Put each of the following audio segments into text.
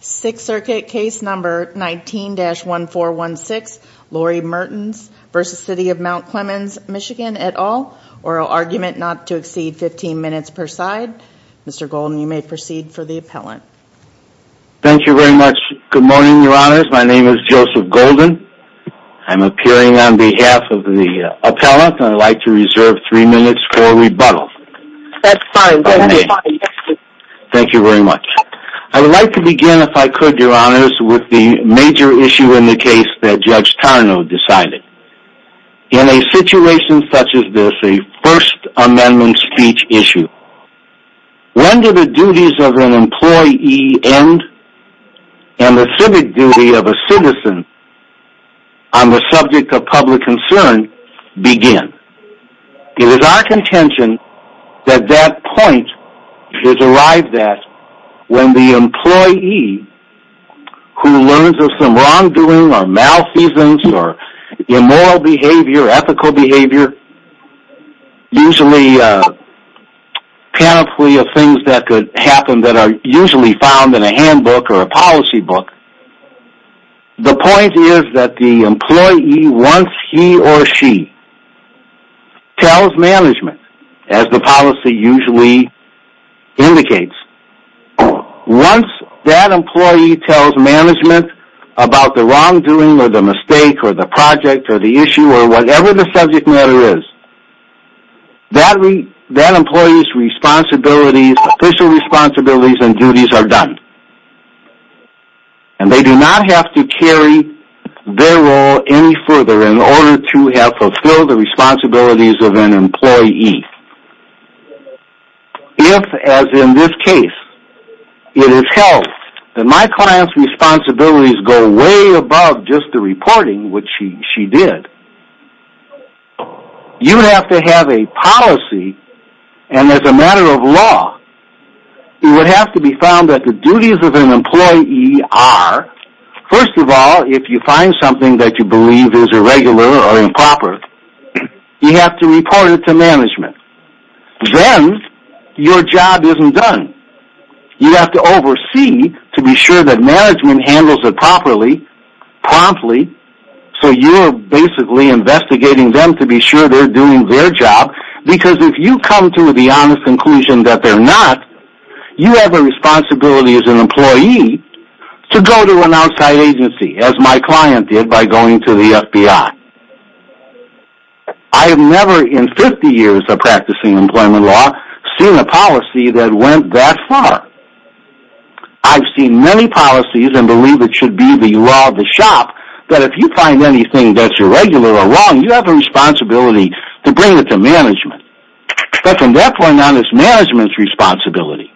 6th Circuit Case Number 19-1416 Lori Mertins v. City of Mount Clemens MI et al. Oral Argument not to exceed 15 minutes per side. Mr. Golden you may proceed for the appellant. Thank you very much. Good morning your honors. My name is Joseph Golden. I'm appearing on behalf of the appellant and I'd like to reserve 3 minutes for rebuttal. That's fine. Thank you very much. I would like to begin if I could your honors with the major issue in the case that Judge Tarnow decided. In a situation such as this, a First Amendment speech issue, when do the duties of an employee end and the civic duty of a citizen on the subject of public concern begin? It is our contention that that point is arrived at when the employee who learns of some wrongdoing or malfeasance or immoral behavior, ethical behavior, usually a panoply of things that could happen that are usually found in a handbook or a policy book. The point is that the employee once he or she tells management as the policy usually indicates, once that employee tells management about the wrongdoing or the mistake or the project or the issue or whatever the subject matter is, that employee's responsibilities, official responsibilities and duties are done. And they do not have to carry their role any further in order to have fulfilled the responsibilities of an employee. If, as in this case, it is held that my client's responsibilities go way above just the reporting, which she did, you would have to have a policy and as a matter of law, it would have to be found that the duties of an employee are, first of all, if you find something that you believe is irregular or improper, you have to report it to management. Then, your job isn't done. You have to oversee to be sure that management handles it properly, promptly, so you're basically investigating them to be sure they're doing their job because if you come to the honest conclusion that they're not, you have a responsibility as an employee to go to an outside agency, as my client did by going to the FBI. I have never, in 50 years of practicing employment law, seen a policy that went that far. I've seen many policies and believe it should be the law of the shop that if you find anything that's irregular or wrong, you have a responsibility to bring it to management. But from that point on, it's management's responsibility.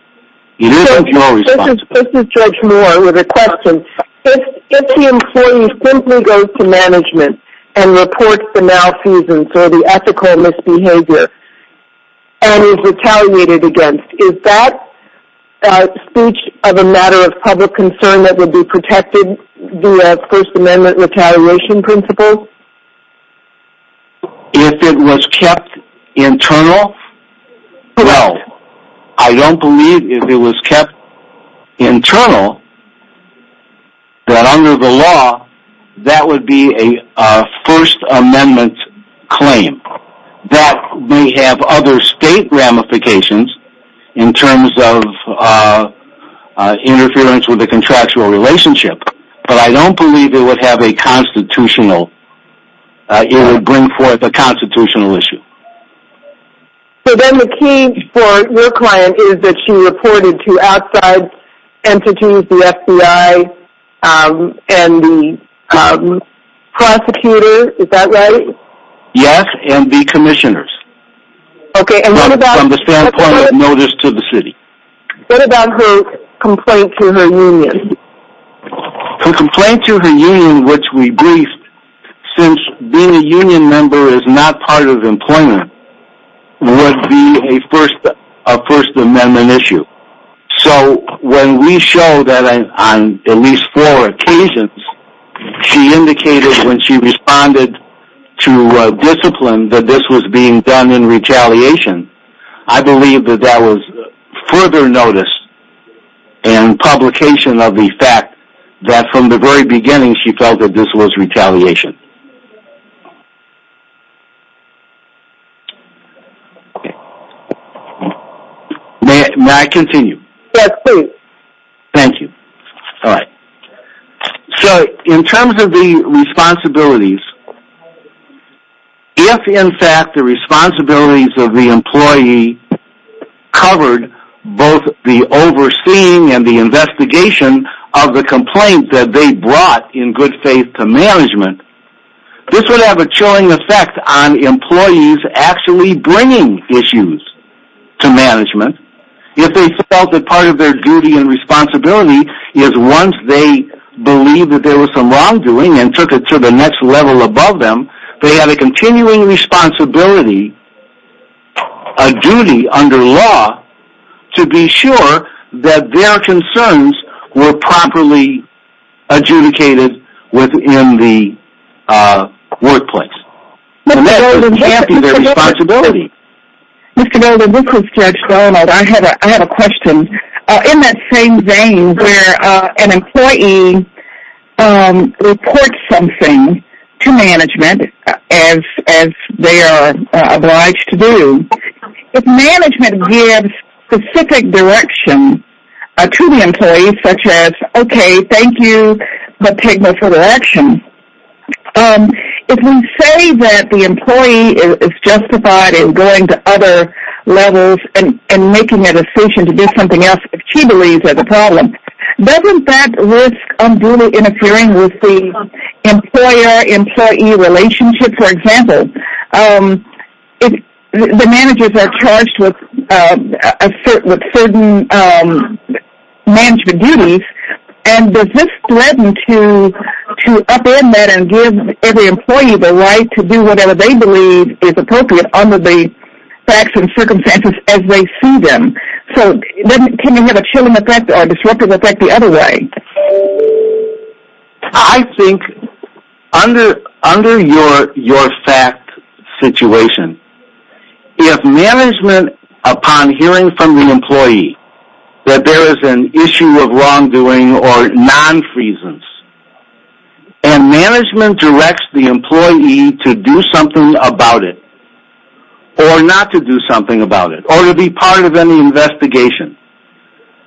It isn't your responsibility. This is George Moore with a question. If the employee simply goes to management and reports the malfeasance or the ethical misbehavior and is retaliated against, is that speech of a matter of public concern that would be protected via First Amendment retaliation principles? If it was kept internal, well, I don't believe if it was kept internal that under the law, that would be a First Amendment claim. That may have other state ramifications in terms of interference with the contractual relationship, but I don't believe it would bring forth a constitutional issue. So then the key for your client is that she reported to outside entities, the FBI, and the prosecutor, is that right? Yes, and the commissioners, from the standpoint of notice to the city. What about her complaint to her union? Her complaint to her union, which we briefed, since being a union member is not part of employment, would be a First Amendment issue. So when we show that on at least four occasions she indicated when she responded to discipline that this was being done in retaliation, I believe that that was further notice and publication of the fact that from the very beginning she felt that this was retaliation. May I continue? Yes, please. Thank you. So in terms of the responsibilities, if in fact the responsibilities of the employee covered both the overseeing and the investigation of the complaint that they brought in good faith to management, this would have a chilling effect on employees actually bringing issues to management if they felt that part of their duty and responsibility is once they believe that there was some wrongdoing and took it to the next level above them, they have a continuing responsibility, a duty under law, to be sure that their concerns were properly adjudicated within the workplace. Mr. Golden, this is Judge Reynolds. I have a question. In that same vein where an employee reports something to management as they are obliged to do, if management gives specific direction to the employee such as, okay, thank you, but take no further action, if we say that the employee is justified in going to other levels and making a decision to do something else if she believes there's a problem, doesn't that risk unduly interfering with the employer-employee relationship? For example, if the managers are charged with certain management duties, and does this threaten to upend that and give every employee the right to do whatever they believe is appropriate under the facts and circumstances as they see them? So can you have a chilling effect or a disruptive effect the other way? I think under your fact situation, if management, upon hearing from the employee that there is an issue of wrongdoing or non-freedoms, and management directs the employee to do something about it or not to do something about it or to be part of any investigation,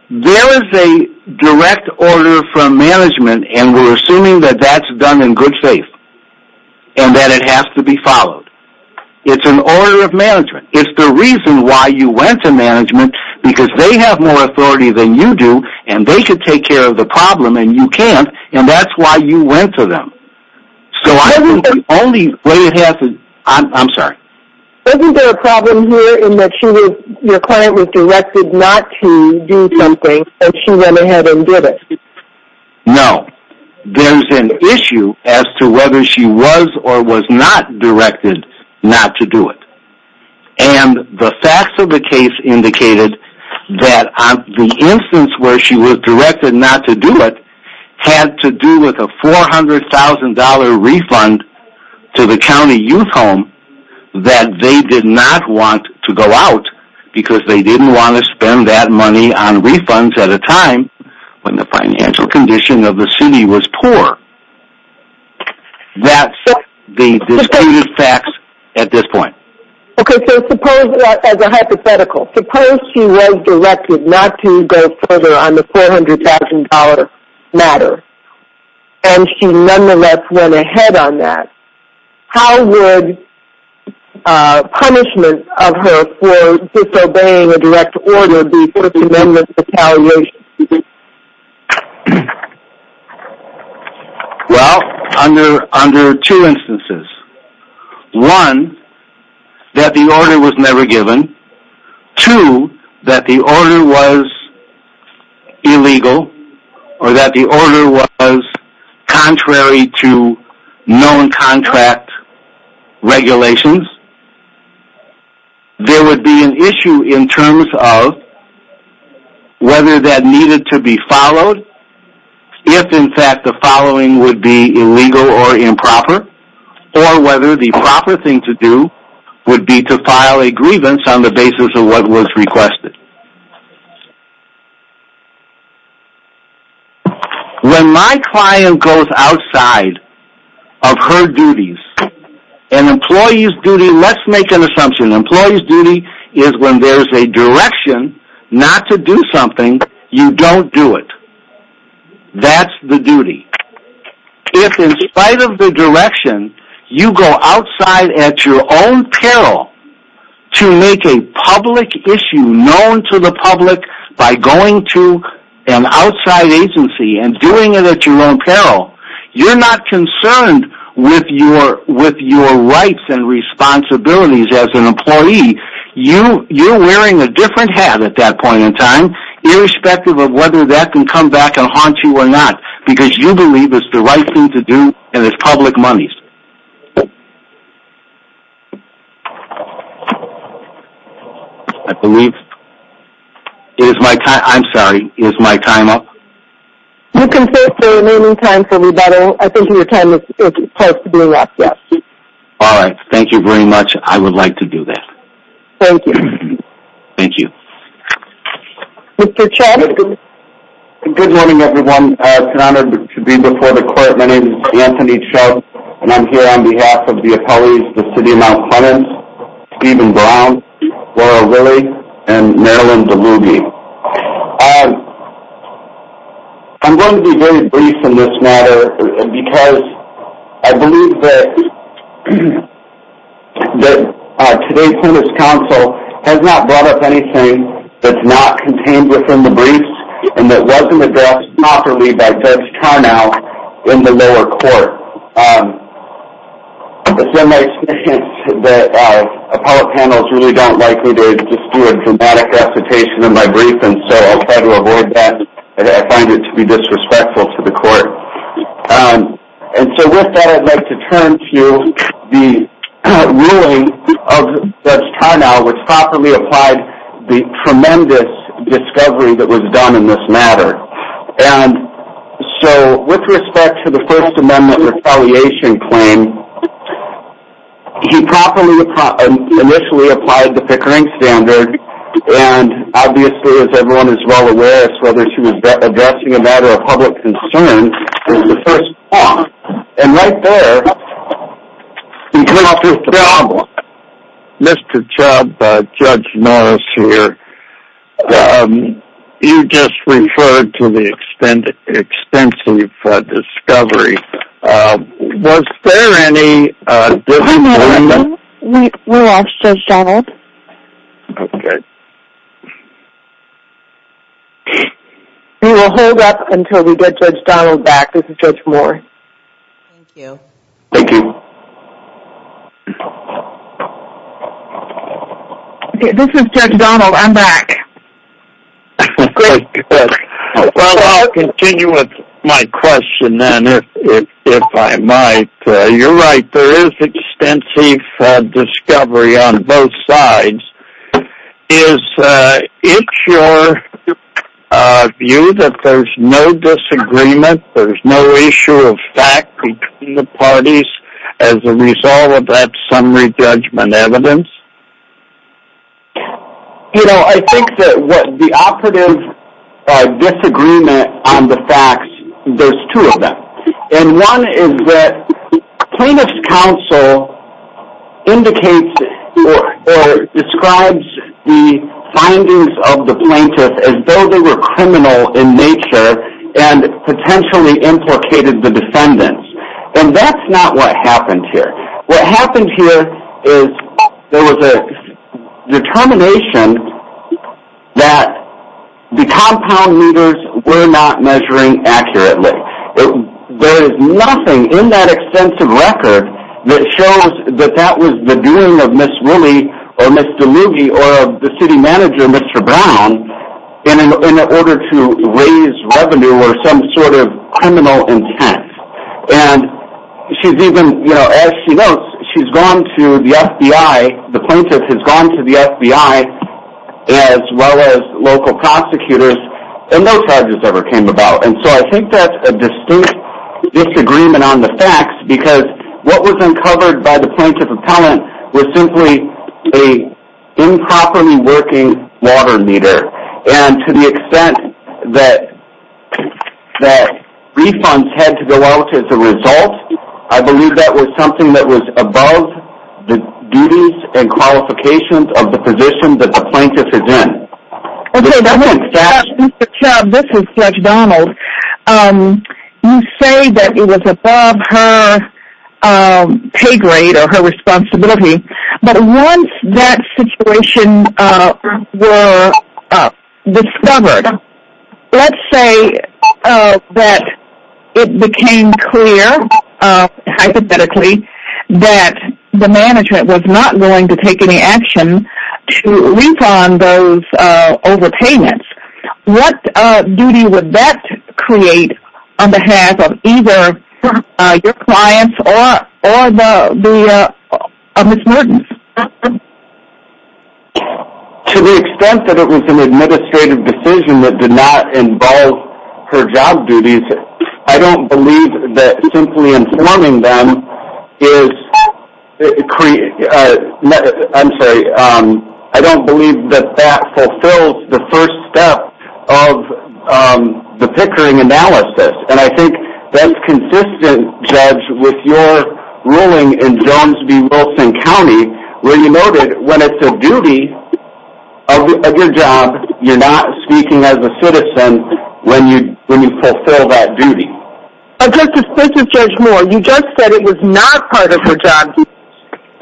there is a direct order from management, and we're assuming that that's done in good faith and that it has to be followed. It's an order of management. It's the reason why you went to management, because they have more authority than you do, and they should take care of the problem, and you can't, and that's why you went to them. Isn't there a problem here in that your client was directed not to do something, and she went ahead and did it? No. There's an issue as to whether she was or was not directed not to do it, and the facts of the case indicated that the instance where she was directed not to do it had to do with a $400,000 refund to the county youth home that they did not want to go out because they didn't want to spend that money on refunds at a time when the financial condition of the city was poor. That's the disputed facts at this point. Okay, so suppose, as a hypothetical, suppose she was directed not to go further on the $400,000 matter, and she nonetheless went ahead on that. How would punishment of her for disobeying a direct order be put to amendment retaliation? Well, under two instances. One, that the order was never given. Two, that the order was illegal, or that the order was contrary to known contract regulations. There would be an issue in terms of whether that needed to be followed, if in fact the following would be illegal or improper, or whether the proper thing to do would be to file a grievance on the basis of what was requested. When my client goes outside of her duties, an employee's duty, let's make an assumption, an employee's duty is when there's a direction not to do something, you don't do it. That's the duty. If in spite of the direction, you go outside at your own peril to make a public issue known to the public by going to an outside agency and doing it at your own peril, you're not concerned with your rights and responsibilities as an employee. You're wearing a different hat at that point in time, irrespective of whether that can come back and haunt you or not, because you believe it's the right thing to do, and it's public money. I believe, it is my time, I'm sorry, is my time up? You can fix the remaining time for rebuttal. I think your time is close to being wrapped up. Alright, thank you very much. I would like to do that. Thank you. Thank you. Mr. Chubb? Good morning everyone. It's an honor to be before the court. My name is Anthony Chubb, and I'm here on behalf of the appellees, the City of Mount Clemens, Stephen Brown, Laura Willey, and Marilyn DeLuby. I'm going to be very brief in this matter, because I believe that today's Clemens Council has not brought up anything that's not contained within the briefs, and that wasn't addressed properly by Judge Carnow in the lower court. It's been my experience that appellate panels really don't like me to just do a dramatic recitation in my brief, and so I try to avoid that, and I find it to be disrespectful to the court. And so with that, I'd like to turn to the ruling of Judge Carnow, which properly applied the tremendous discovery that was done in this matter. And so, with respect to the First Amendment Refelliation Claim, he properly initially applied the Pickering Standard, and obviously as everyone is well aware as to whether she was addressing a matter of public concern, it was the First Amendment. And right there, we come up with the problem. Mr. Chubb, Judge Norris here, you just referred to the extensive discovery. Was there any disagreement? We lost Judge Donald. Okay. We will hold up until we get Judge Donald back. This is Judge Moore. Thank you. Thank you. This is Judge Donald. I'm back. Well, I'll continue with my question then, if I might. You're right, there is extensive discovery on both sides. Is it your view that there's no disagreement, there's no issue of fact between the parties as a result of that summary judgment evidence? You know, I think that the operative disagreement on the facts, there's two of them. And one is that plaintiff's counsel indicates or describes the findings of the plaintiff as though they were criminal in nature and potentially implicated the defendants. And that's not what happened here. What happened here is there was a determination that the compound meters were not measuring accurately. There is nothing in that extensive record that shows that that was the doing of Ms. Wooley or Ms. DeMuge or the city manager, Mr. Brown, in order to raise revenue or some sort of criminal intent. And she's even, you know, as she notes, she's gone to the FBI, the plaintiff has gone to the FBI, as well as local prosecutors, and no charges ever came about. And so I think that's a distinct disagreement on the facts because what was uncovered by the plaintiff appellant was simply a improperly working water meter. And to the extent that refunds had to go out as a result, I believe that was something that was above the duties and qualifications of the position that the plaintiff is in. Mr. Chubb, this is Judge Donald. You say that it was above her pay grade or her responsibility, but once that situation were discovered, let's say that it became clear, hypothetically, that the management was not willing to take any action to refund those overpayments. What duty would that create on behalf of either your clients or Ms. Norton? To the extent that it was an administrative decision that did not involve her job duties, I don't believe that simply informing them is, I'm sorry, I don't believe that that fulfills the first step of the Pickering analysis. And I think that's consistent, Judge, with your ruling in Jones v. Wilson County, where you noted when it's a duty of your job, you're not speaking as a citizen when you fulfill that duty. And, Justice, think of Judge Moore. You just said it was not part of her job duties.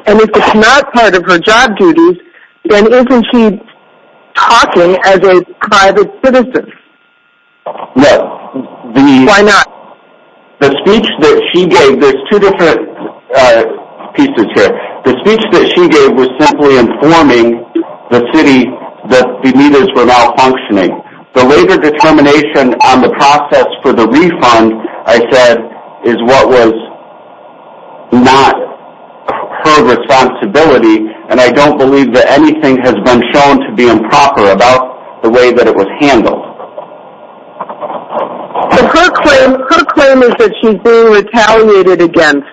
And if it's not part of her job duties, then isn't she talking as a private citizen? No. Why not? The speech that she gave, there's two different pieces here. The speech that she gave was simply informing the city that the meters were malfunctioning. The labor determination on the process for the refund, I said, is what was not her responsibility, and I don't believe that anything has been shown to be improper about the way that it was handled. Her claim is that she's being retaliated against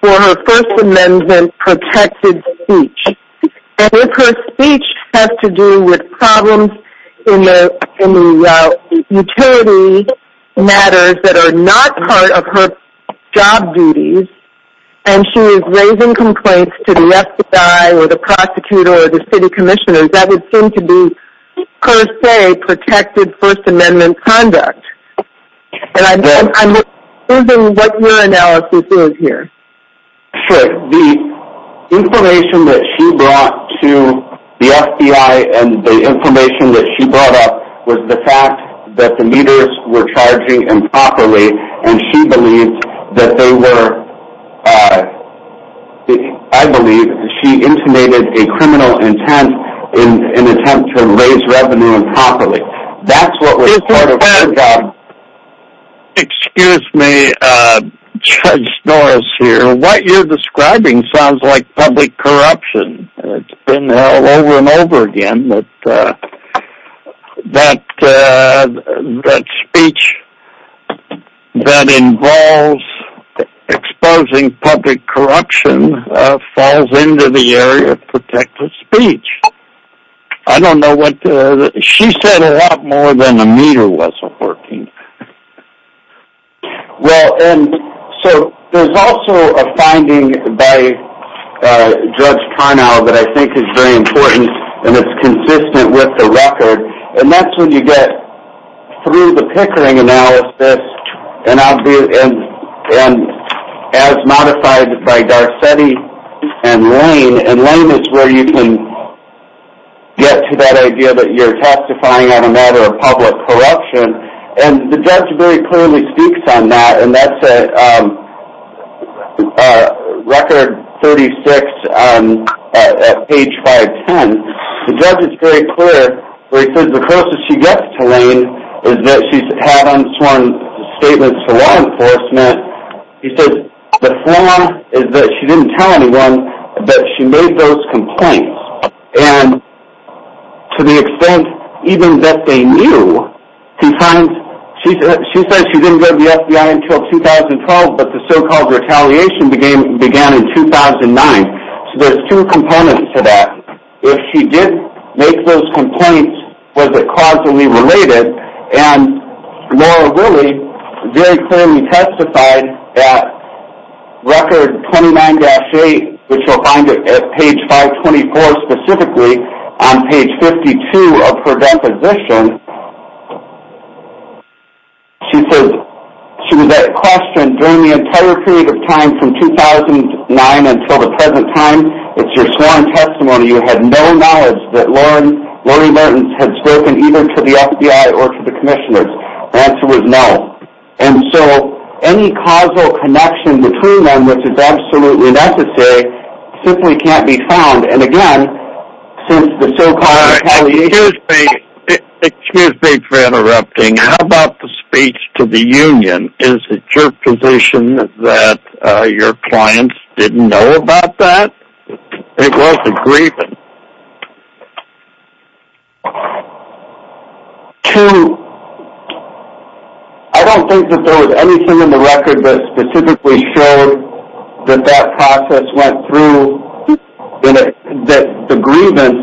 for her First Amendment-protected speech. And if her speech has to do with problems in the utility matters that are not part of her job duties, and she is raising complaints to the FBI or the prosecutor or the city commissioners, that would seem to be, per se, protected First Amendment conduct. And I'm wondering what your analysis is here. Sure. The information that she brought to the FBI and the information that she brought up was the fact that the meters were charging improperly, and she believed that they were, I believe, she intimated a criminal intent in an attempt to raise revenue improperly. That's what was part of her job. Excuse me, Judge Norris here. What you're describing sounds like public corruption. It's been over and over again that speech that involves exposing public corruption falls into the area of protected speech. I don't know what the... She said a lot more than a meter wasn't working. Well, and so there's also a finding by Judge Carnow that I think is very important, and it's consistent with the record, and that's when you get through the Pickering analysis, and as modified by Garcetti and Lane, and Lane is where you can get to that idea that you're testifying on a matter of public corruption, and the judge very clearly speaks on that, and that's at record 36 at page 510. The judge is very clear where he says the closest she gets to Lane is that she's had unsworn statements to law enforcement. He says the flaw is that she didn't tell anyone that she made those complaints, and to the extent even that they knew, she says she didn't go to the FBI until 2012, but the so-called retaliation began in 2009, so there's two components to that. If she did make those complaints, was it causally related, and Laura really very clearly testified at record 29-8, which you'll find at page 524 specifically, on page 52 of her deposition. She says she was at question during the entire period of time from 2009 until the present time. It's your sworn testimony. You had no knowledge that Lori Mertens had spoken either to the FBI or to the commissioners. The answer was no, and so any causal connection between them, which is absolutely necessary, simply can't be found, and again, since the so-called retaliation... All right, excuse me. Excuse me for interrupting. How about the speech to the union? Is it your position that your clients didn't know about that? It was a grievance. I don't think that there was anything in the record that specifically showed that that process went through, that the grievance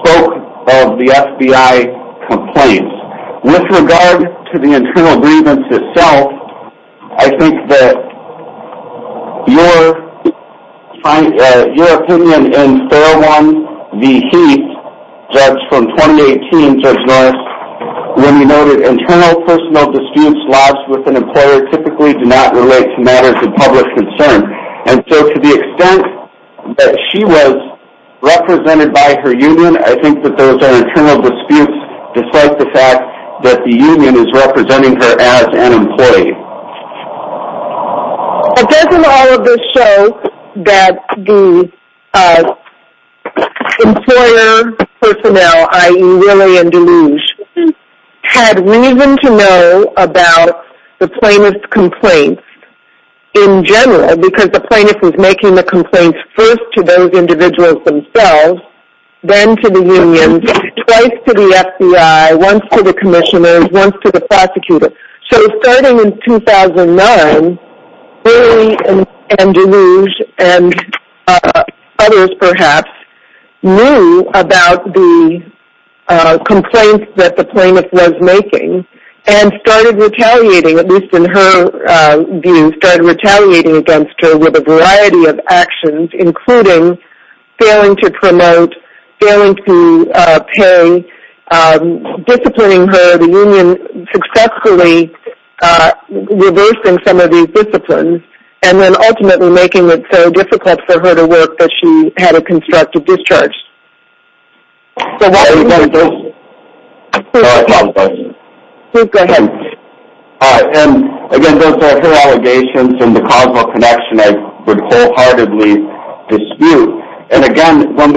spoke of the FBI complaints. With regard to the internal grievance itself, I think that your opinion in Fairlawn v. Heath, Judge from 2018, Judge Norris, when he noted internal personal disputes lodged with an employer typically do not relate to matters of public concern, and so to the extent that she was represented by her union, I think that those are internal disputes, despite the fact that the union is representing her as an employee. But doesn't all of this show that the employer personnel, i.e., Willie and DeLuge, had reason to know about the plaintiff's complaints in general, because the plaintiff was making the complaints first to those individuals themselves, then to the union, twice to the FBI, once to the commissioners, once to the prosecutor. So starting in 2009, Willie and DeLuge and others, perhaps, knew about the complaints that the plaintiff was making and started retaliating, at least in her view, started retaliating against her with a variety of actions, including failing to promote, failing to pay, disciplining her, the union successfully reversing some of these disciplines, and then ultimately making it so difficult for her to work that she had to construct a discharge. So what is this? I apologize. Please go ahead. Again, those are her allegations and the Cosmo Connection I would wholeheartedly dispute. And again, when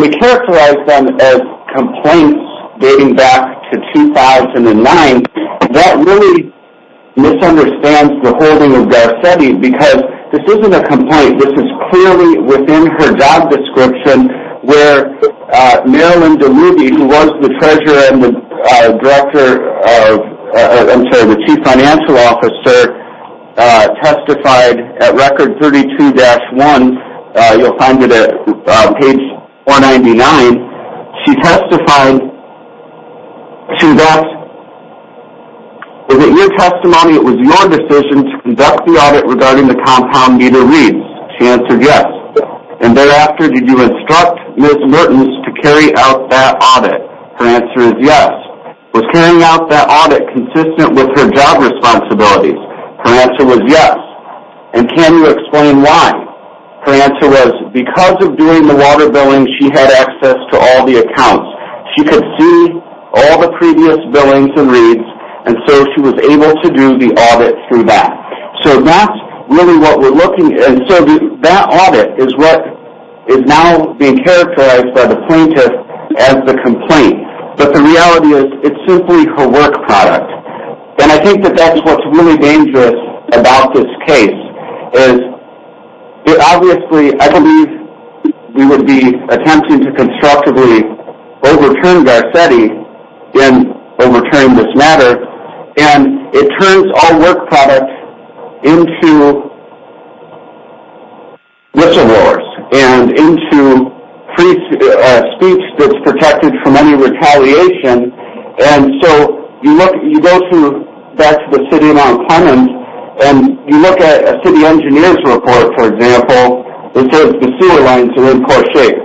we characterize them as complaints dating back to 2009, that really misunderstands the holding of Garcetti, because this isn't a complaint. This is clearly within her job description where Marilyn DeLuge, who was the treasurer and the director of the Chief Financial Officer, testified at Record 32-1. You'll find it at page 199. She testified to that. Was it your testimony it was your decision to conduct the audit regarding the compound meter reads? She answered yes. And thereafter, did you instruct Ms. Mertens to carry out that audit? Her answer is yes. Was carrying out that audit consistent with her job responsibilities? Her answer was yes. And can you explain why? Her answer was because of doing the water billing, she had access to all the accounts. She could see all the previous billings and reads, and so she was able to do the audit through that. So that's really what we're looking at. And so that audit is what is now being characterized by the plaintiff as the complaint. But the reality is it's simply her work product. And I think that that's what's really dangerous about this case, is it obviously, I believe, we would be attempting to constructively overturn Garcetti in overturning this matter. And it turns all work product into whistleblowers and into speech that's protected from any retaliation. And so you go back to the city of Mount Clemens and you look at a city engineer's report, for example, that says the sewer lines are in poor shape.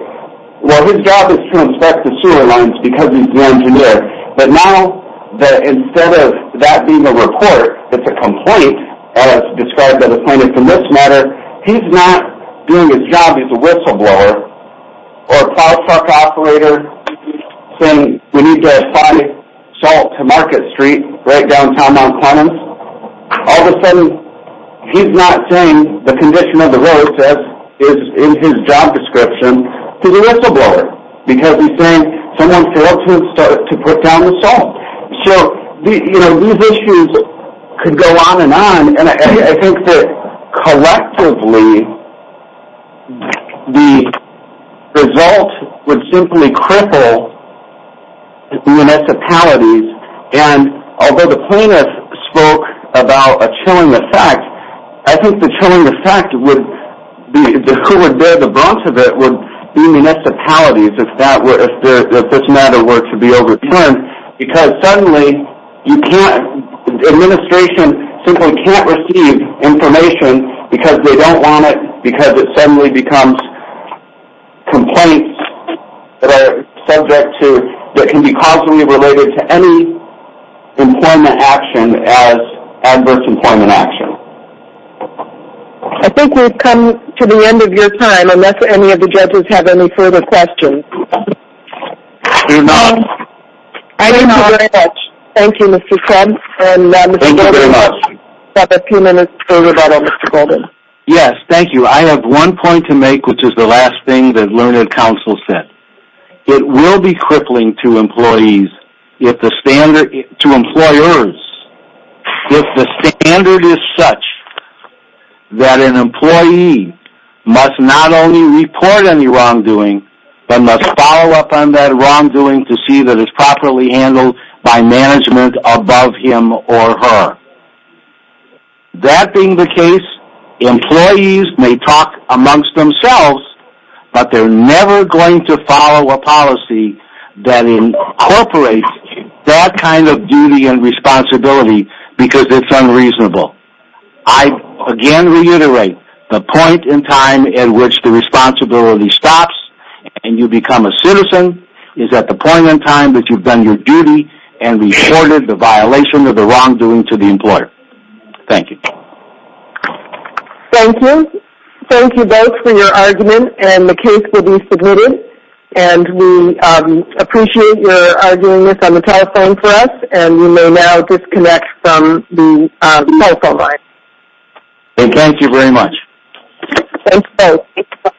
Well, his job is to inspect the sewer lines because he's the engineer. But now instead of that being a report that's a complaint as described by the plaintiff in this matter, he's not doing his job as a whistleblower or a product operator saying we need to apply salt to Market Street right downtown Mount Clemens. All of a sudden he's not saying the condition of the roads as is in his job description. He's a whistleblower because he's saying someone failed to put down the salt. So, you know, these issues could go on and on. And I think that collectively the result would simply cripple municipalities. And although the plaintiff spoke about a chilling effect, I think the chilling effect would be who would bear the brunt of it would be municipalities if this matter were to be overturned. Because suddenly you can't, the administration simply can't receive information because they don't want it, because it suddenly becomes complaints that are subject to, that can be causally related to any employment action as adverse employment action. I think we've come to the end of your time unless any of the judges have any further questions. There are none. Thank you very much. Thank you, Mr. Kemp. Thank you very much. We have a few minutes for rebuttal, Mr. Golden. Yes, thank you. I have one point to make which is the last thing that Learned Counsel said. It will be crippling to employees if the standard, to employers, if the standard is such that an employee must not only report any wrongdoing, but must follow up on that wrongdoing to see that it's properly handled by management above him or her. That being the case, employees may talk amongst themselves, but they're never going to follow a policy that incorporates that kind of duty and responsibility because it's unreasonable. I again reiterate the point in time at which the responsibility stops and you become a citizen is at the point in time that you've done your duty and reported the violation or the wrongdoing to the employer. Thank you. Thank you. Thank you both for your argument. The case will be submitted. We appreciate your arguing this on the telephone for us. You may now disconnect from the telephone line. Thank you very much. Thanks, both.